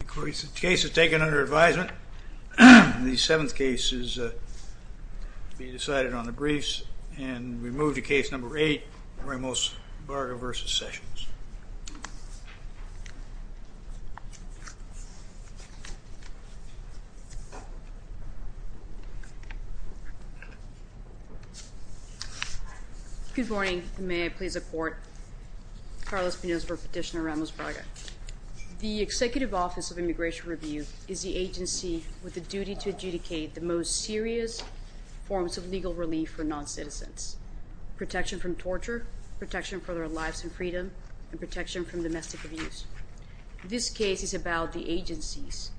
The case is taken under advisement. The seventh case is to be decided on the briefs and we move to case number eight, Ramos-Braga v. Sessions. Good morning. May I please report? Carlos Pinos for Petitioner Ramos-Braga. The Executive Office of Immigration Review is the agency with the duty to adjudicate the most serious forms of legal relief for non-citizens. Protection from torture, protection for their lives and freedom, and protection from domestic abuse. This case is about the agency's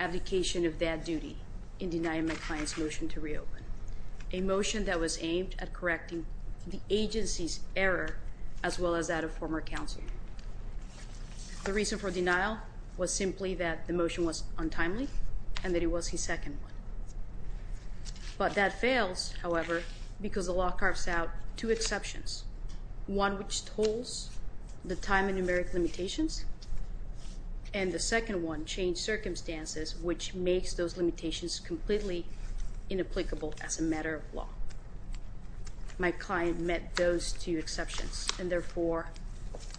abdication of that duty in denying my client's motion to reopen. A motion that was aimed at correcting the agency's error as well as that of former counsel. The reason for denial was simply that the motion was untimely and that it was his second one. But that fails, however, because the law carves out two exceptions. One which tolls the time and numeric limitations and the second one changed circumstances which makes those limitations completely inapplicable as a matter of law. My client met those two exceptions and therefore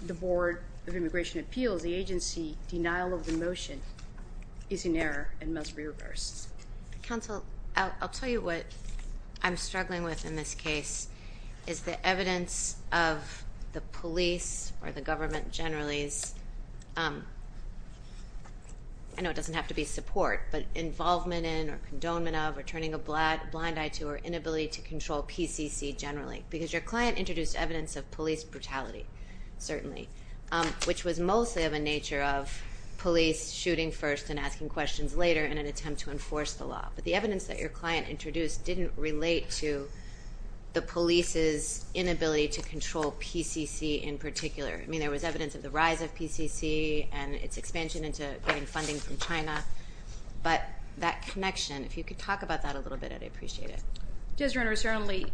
the Board of Immigration Appeals, the agency, denial of the motion is in error and must be reversed. Counsel, I'll tell you what I'm struggling with in this case. Is the evidence of the police or the government generally's, I know it doesn't have to be support, but involvement in or condonement of or turning a blind eye to or inability to control PCC generally. Because your client introduced evidence of police brutality, certainly, which was mostly of a nature of police shooting first and asking questions later in an attempt to enforce the law. But the evidence that your client introduced didn't relate to the police's inability to control PCC in particular. I mean, there was evidence of the rise of PCC and its expansion into getting funding from China. But that connection, if you could talk about that a little bit, I'd appreciate it. Yes, Your Honor. Certainly,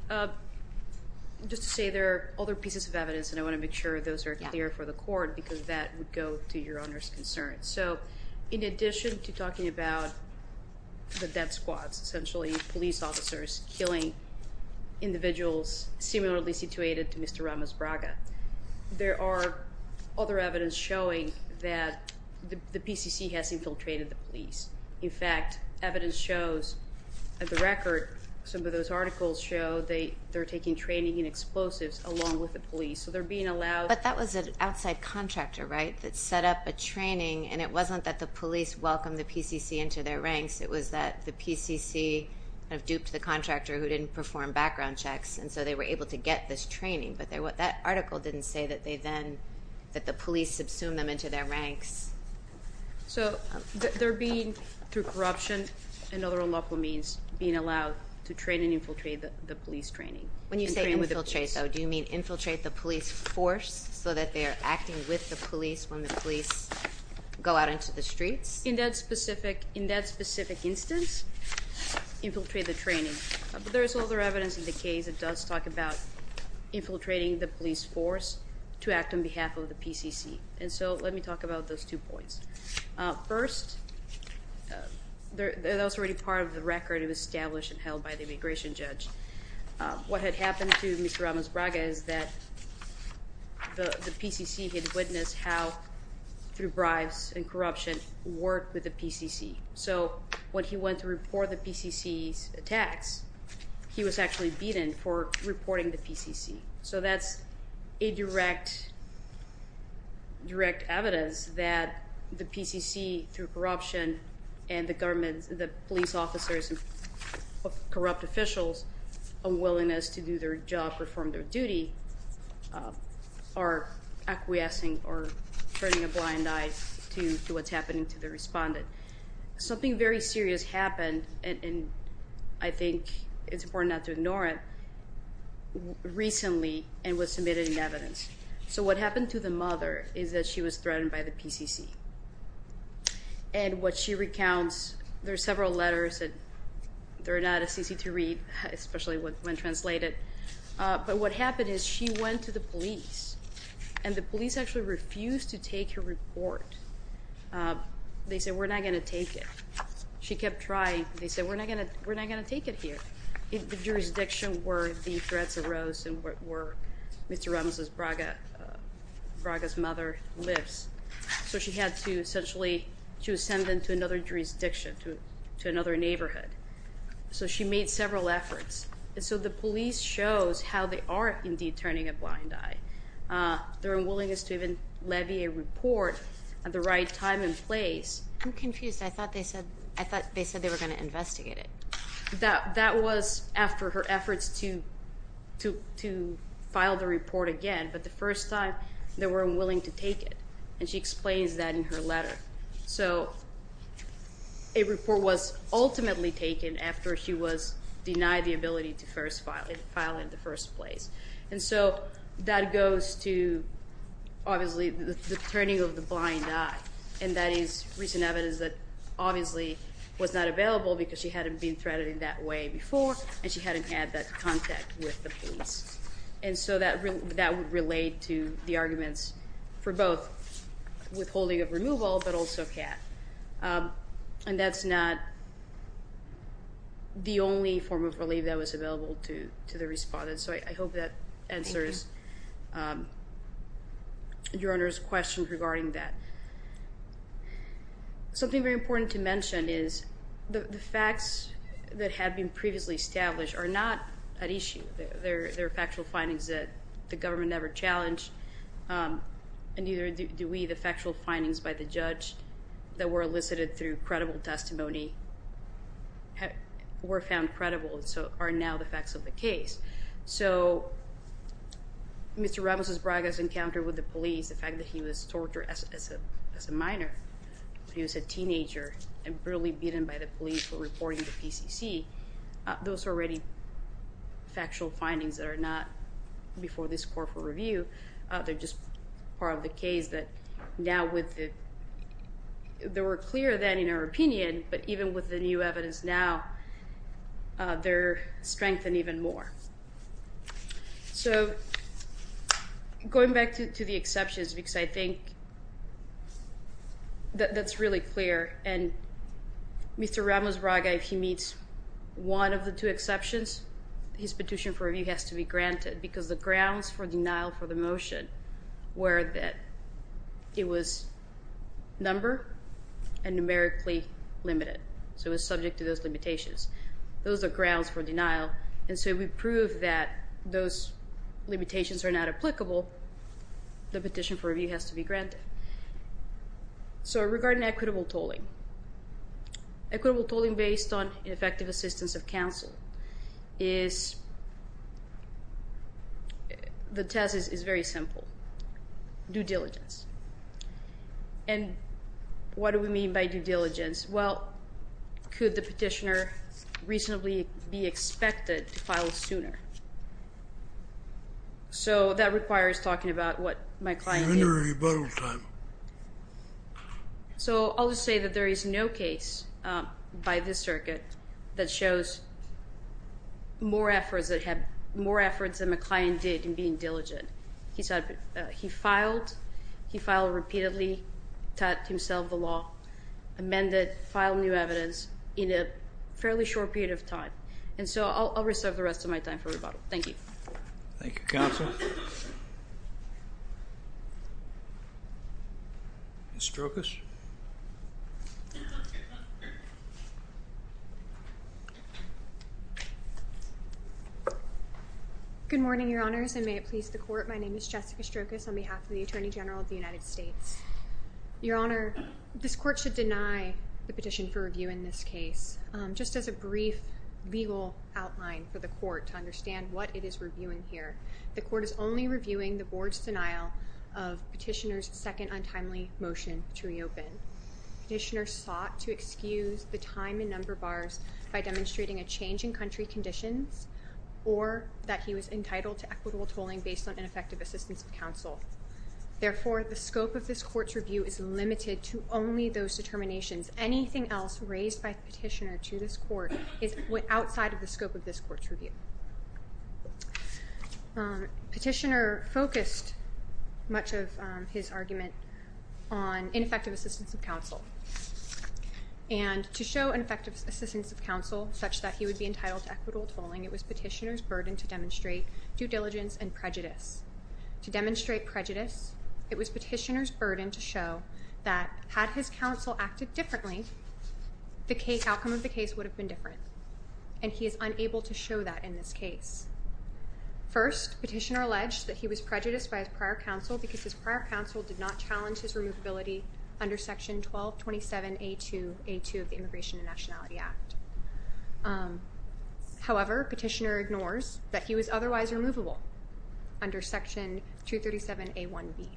just to say there are other pieces of evidence and I want to make sure those are clear for the court because that would go to Your Honor's concern. So in addition to talking about the death squads, essentially police officers killing individuals similarly situated to Mr. Ramos Braga, there are other evidence showing that the PCC has infiltrated the police. In fact, evidence shows at the record some of those articles show they're taking training in explosives along with the police. So they're being allowed. But that was an outside contractor, right, that set up a training, and it wasn't that the police welcomed the PCC into their ranks. It was that the PCC kind of duped the contractor who didn't perform background checks, and so they were able to get this training. But that article didn't say that the police subsumed them into their ranks. So they're being, through corruption and other unlawful means, being allowed to train and infiltrate the police training. When you say infiltrate, though, do you mean infiltrate the police force so that they are acting with the police when the police go out into the streets? In that specific instance, infiltrate the training. There is other evidence in the case that does talk about infiltrating the police force to act on behalf of the PCC. And so let me talk about those two points. First, that was already part of the record. It was established and held by the immigration judge. What had happened to Mr. Ramos Braga is that the PCC had witnessed how, through bribes and corruption, work with the PCC. So when he went to report the PCC's attacks, he was actually beaten for reporting the PCC. So that's a direct evidence that the PCC, through corruption and the police officers and corrupt officials' unwillingness to do their job, perform their duty, are acquiescing or turning a blind eye to what's happening to the respondent. Something very serious happened, and I think it's important not to ignore it. It was recently and was submitted in evidence. So what happened to the mother is that she was threatened by the PCC. And what she recounts, there are several letters that are not as easy to read, especially when translated. But what happened is she went to the police, and the police actually refused to take her report. They said, we're not going to take it. She kept trying. They said, we're not going to take it here. The jurisdiction where the threats arose and where Mr. Ramos's, Braga's mother lives. So she had to essentially, she was sent into another jurisdiction, to another neighborhood. So she made several efforts. And so the police shows how they are indeed turning a blind eye. Their unwillingness to even levy a report at the right time and place. I'm confused. I thought they said they were going to investigate it. That was after her efforts to file the report again. But the first time, they were unwilling to take it. And she explains that in her letter. So a report was ultimately taken after she was denied the ability to file it in the first place. And so that goes to, obviously, the turning of the blind eye. And that is recent evidence that obviously was not available because she hadn't been threaded in that way before. And she hadn't had that contact with the police. And so that would relate to the arguments for both withholding of removal but also CAT. And that's not the only form of relief that was available to the respondents. So I hope that answers your Honor's question regarding that. Something very important to mention is the facts that had been previously established are not at issue. They're factual findings that the government never challenged. And neither do we. The factual findings by the judge that were elicited through credible testimony were found credible and so are now the facts of the case. So Mr. Ramos' Braga's encounter with the police, the fact that he was tortured as a minor, he was a teenager and brutally beaten by the police for reporting to PCC, those are already factual findings that are not before this court for review. They're just part of the case that now with the – they were clear then in our opinion, but even with the new evidence now, they're strengthened even more. So going back to the exceptions because I think that's really clear. And Mr. Ramos' Braga, if he meets one of the two exceptions, his petition for review has to be granted because the grounds for denial for the motion were that it was number and numerically limited. So it was subject to those limitations. Those are grounds for denial. And so if we prove that those limitations are not applicable, the petition for review has to be granted. So regarding equitable tolling. Equitable tolling based on effective assistance of counsel is – the test is very simple, due diligence. And what do we mean by due diligence? Well, could the petitioner reasonably be expected to file sooner? So that requires talking about what my client needs. You're under rebuttal time. So I'll just say that there is no case by this circuit that shows more efforts than my client did in being diligent. He filed. He filed repeatedly, taught himself the law, amended, filed new evidence in a fairly short period of time. And so I'll reserve the rest of my time for rebuttal. Thank you. Thank you, Counsel. Ms. Strokos. Good morning, Your Honors, and may it please the Court. My name is Jessica Strokos on behalf of the Attorney General of the United States. Your Honor, this Court should deny the petition for review in this case. Just as a brief legal outline for the Court to understand what it is reviewing here, the Court is only reviewing the Board's denial of Petitioner's second untimely motion to reopen. Petitioner sought to excuse the time and number bars by demonstrating a change in country conditions or that he was entitled to equitable tolling based on ineffective assistance of counsel. Therefore, the scope of this Court's review is limited to only those determinations. Anything else raised by Petitioner to this Court is outside of the scope of this Court's review. Petitioner focused much of his argument on ineffective assistance of counsel. And to show ineffective assistance of counsel such that he would be entitled to equitable tolling, it was Petitioner's burden to demonstrate due diligence and prejudice. To demonstrate prejudice, it was Petitioner's burden to show that had his counsel acted differently, the outcome of the case would have been different. And he is unable to show that in this case. First, Petitioner alleged that he was prejudiced by his prior counsel because his prior counsel did not challenge his removability under Section 1227A2 of the Immigration and Nationality Act. However, Petitioner ignores that he was otherwise removable under Section 237A1B.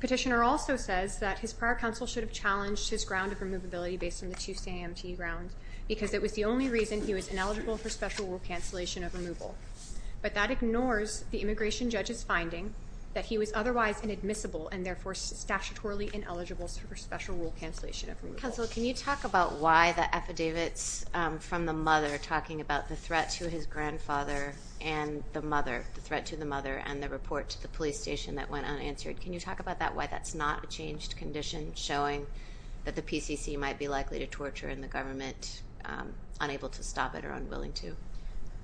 Petitioner also says that his prior counsel should have challenged his ground of removability based on the 2CAMT grounds because it was the only reason he was ineligible for special rule cancellation of removal. But that ignores the Immigration judge's finding that he was otherwise inadmissible and therefore statutorily ineligible for special rule cancellation of removal. Your Honor, can you talk about why the affidavits from the mother, talking about the threat to his grandfather and the mother, the threat to the mother and the report to the police station that went unanswered, can you talk about that, why that's not a changed condition showing that the PCC might be likely to torture and the government unable to stop it or unwilling to?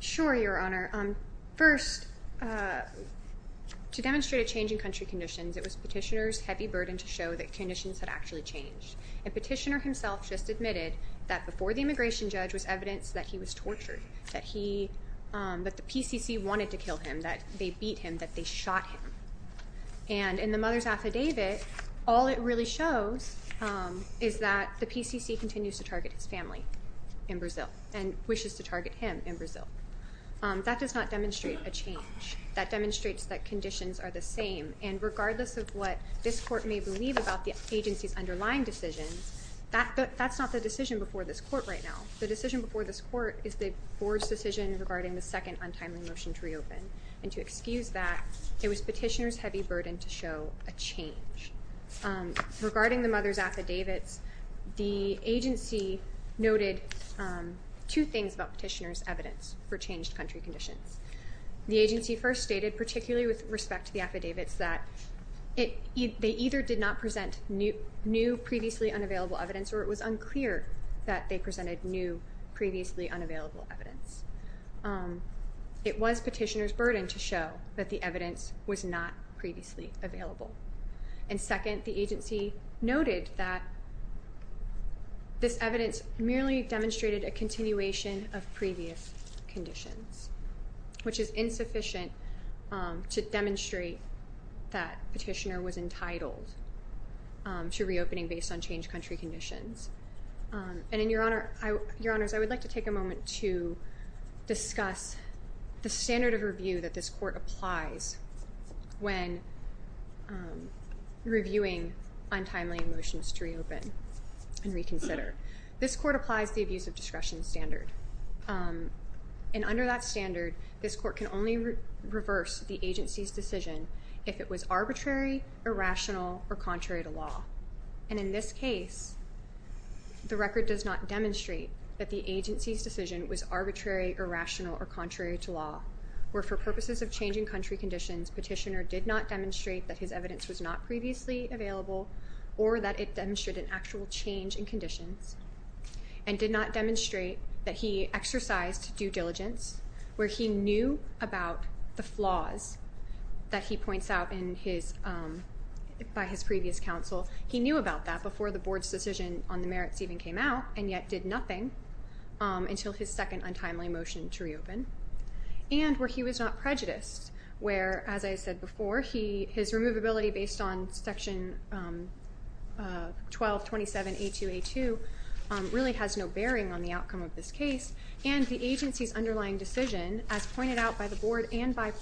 Sure, Your Honor. First, to demonstrate a change in country conditions, it was Petitioner's heavy burden to show that conditions had actually changed. And Petitioner himself just admitted that before the Immigration judge was evidence that he was tortured, that the PCC wanted to kill him, that they beat him, that they shot him. And in the mother's affidavit, all it really shows is that the PCC continues to target his family in Brazil and wishes to target him in Brazil. That does not demonstrate a change. That demonstrates that conditions are the same. And regardless of what this Court may believe about the agency's underlying decisions, that's not the decision before this Court right now. The decision before this Court is the Board's decision regarding the second untimely motion to reopen. And to excuse that, it was Petitioner's heavy burden to show a change. Regarding the mother's affidavits, the agency noted two things about Petitioner's evidence for changed country conditions. The agency first stated, particularly with respect to the affidavits, that they either did not present new previously unavailable evidence or it was unclear that they presented new previously unavailable evidence. It was Petitioner's burden to show that the evidence was not previously available. And second, the agency noted that this evidence merely demonstrated a continuation of previous conditions, which is insufficient to demonstrate that Petitioner was entitled to reopening based on changed country conditions. And, Your Honors, I would like to take a moment to discuss the standard of review that this Court applies when reviewing untimely motions to reopen and reconsider. This Court applies the abuse of discretion standard. And under that standard, this Court can only reverse the agency's decision if it was arbitrary, irrational, or contrary to law. And in this case, the record does not demonstrate that the agency's decision was arbitrary, irrational, or contrary to law, or for purposes of changing country conditions, Petitioner did not demonstrate that his evidence was not previously available or that it demonstrated an actual change in conditions, and did not demonstrate that he exercised due diligence, where he knew about the flaws that he points out by his previous counsel. He knew about that before the Board's decision on the merits even came out, and yet did nothing until his second untimely motion to reopen, and where he was not prejudiced, where, as I said before, his removability based on Section 1227A2A2 really has no bearing on the outcome of this case, and the agency's underlying decision, as pointed out by the Board and by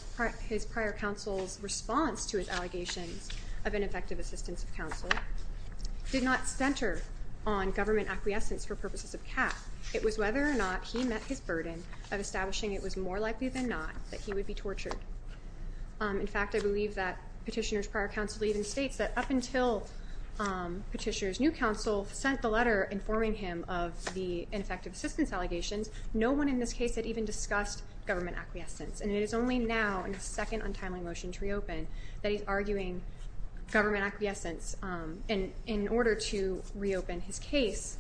his prior counsel's response to his allegations of ineffective assistance of counsel, did not center on government acquiescence for purposes of CAF. It was whether or not he met his burden of establishing it was more likely than not that he would be tortured. In fact, I believe that Petitioner's prior counsel even states that up until Petitioner's new counsel sent the letter informing him of the ineffective assistance allegations, no one in this case had even discussed government acquiescence, and it is only now in his second untimely motion to reopen that he's arguing government acquiescence in order to reopen his case,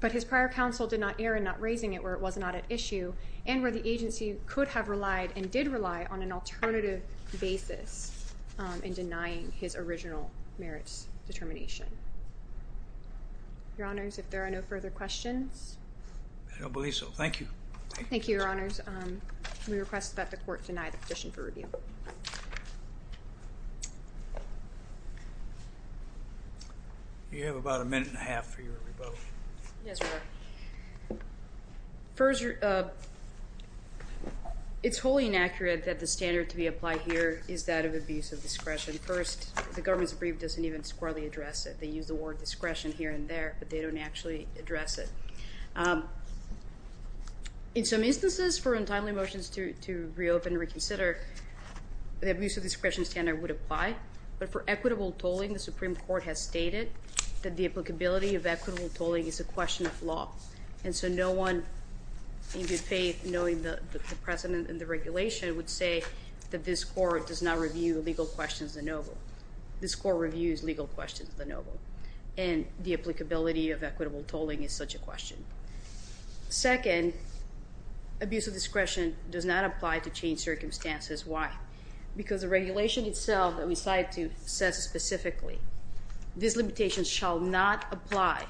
but his prior counsel did not err in not raising it where it was not at issue and where the agency could have relied and did rely on an alternative basis in denying his original merits determination. Your Honors, if there are no further questions. I don't believe so. Thank you. Thank you, Your Honors. We request that the Court deny the petition for review. You have about a minute and a half for your rebuttal. Yes, Your Honor. It's wholly inaccurate that the standard to be applied here is that of abuse of discretion. First, the government's brief doesn't even squarely address it. They use the word discretion here and there, but they don't actually address it. In some instances, for untimely motions to reopen and reconsider, the abuse of discretion standard would apply, but for equitable tolling, the Supreme Court has stated that the applicability of equitable tolling is a question of law, and so no one in good faith knowing the precedent and the regulation would say that this Court does not review legal questions of the noble. And the applicability of equitable tolling is such a question. Second, abuse of discretion does not apply to changed circumstances. Why? Because the regulation itself that we cite says specifically, this limitation shall not apply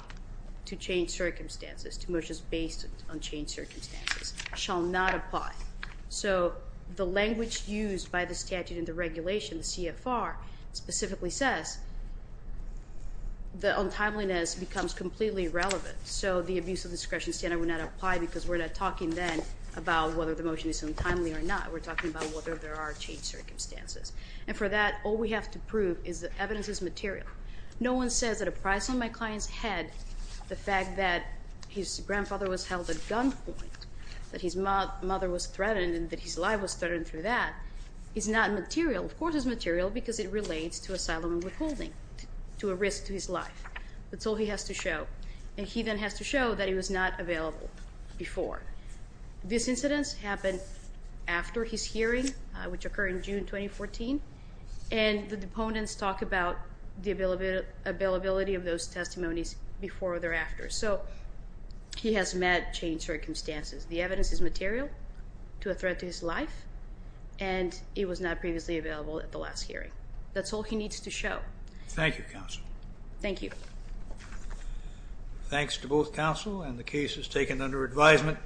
to changed circumstances, to motions based on changed circumstances. Shall not apply. So the language used by the statute and the regulation, the CFR, specifically says the untimeliness becomes completely irrelevant, so the abuse of discretion standard would not apply because we're not talking then about whether the motion is untimely or not. We're talking about whether there are changed circumstances. And for that, all we have to prove is that evidence is material. No one says at a price on my client's head the fact that his grandfather was held at gunpoint, that his mother was threatened, and that his life was threatened through that, is not material. Of course it's material because it relates to asylum and withholding, to a risk to his life. That's all he has to show. And he then has to show that he was not available before. These incidents happened after his hearing, which occurred in June 2014, and the deponents talk about the availability of those testimonies before or thereafter. So he has met changed circumstances. The evidence is material to a threat to his life, and he was not previously available at the last hearing. That's all he needs to show. Thank you, counsel. Thank you. Thanks to both counsel and the cases taken under advisement.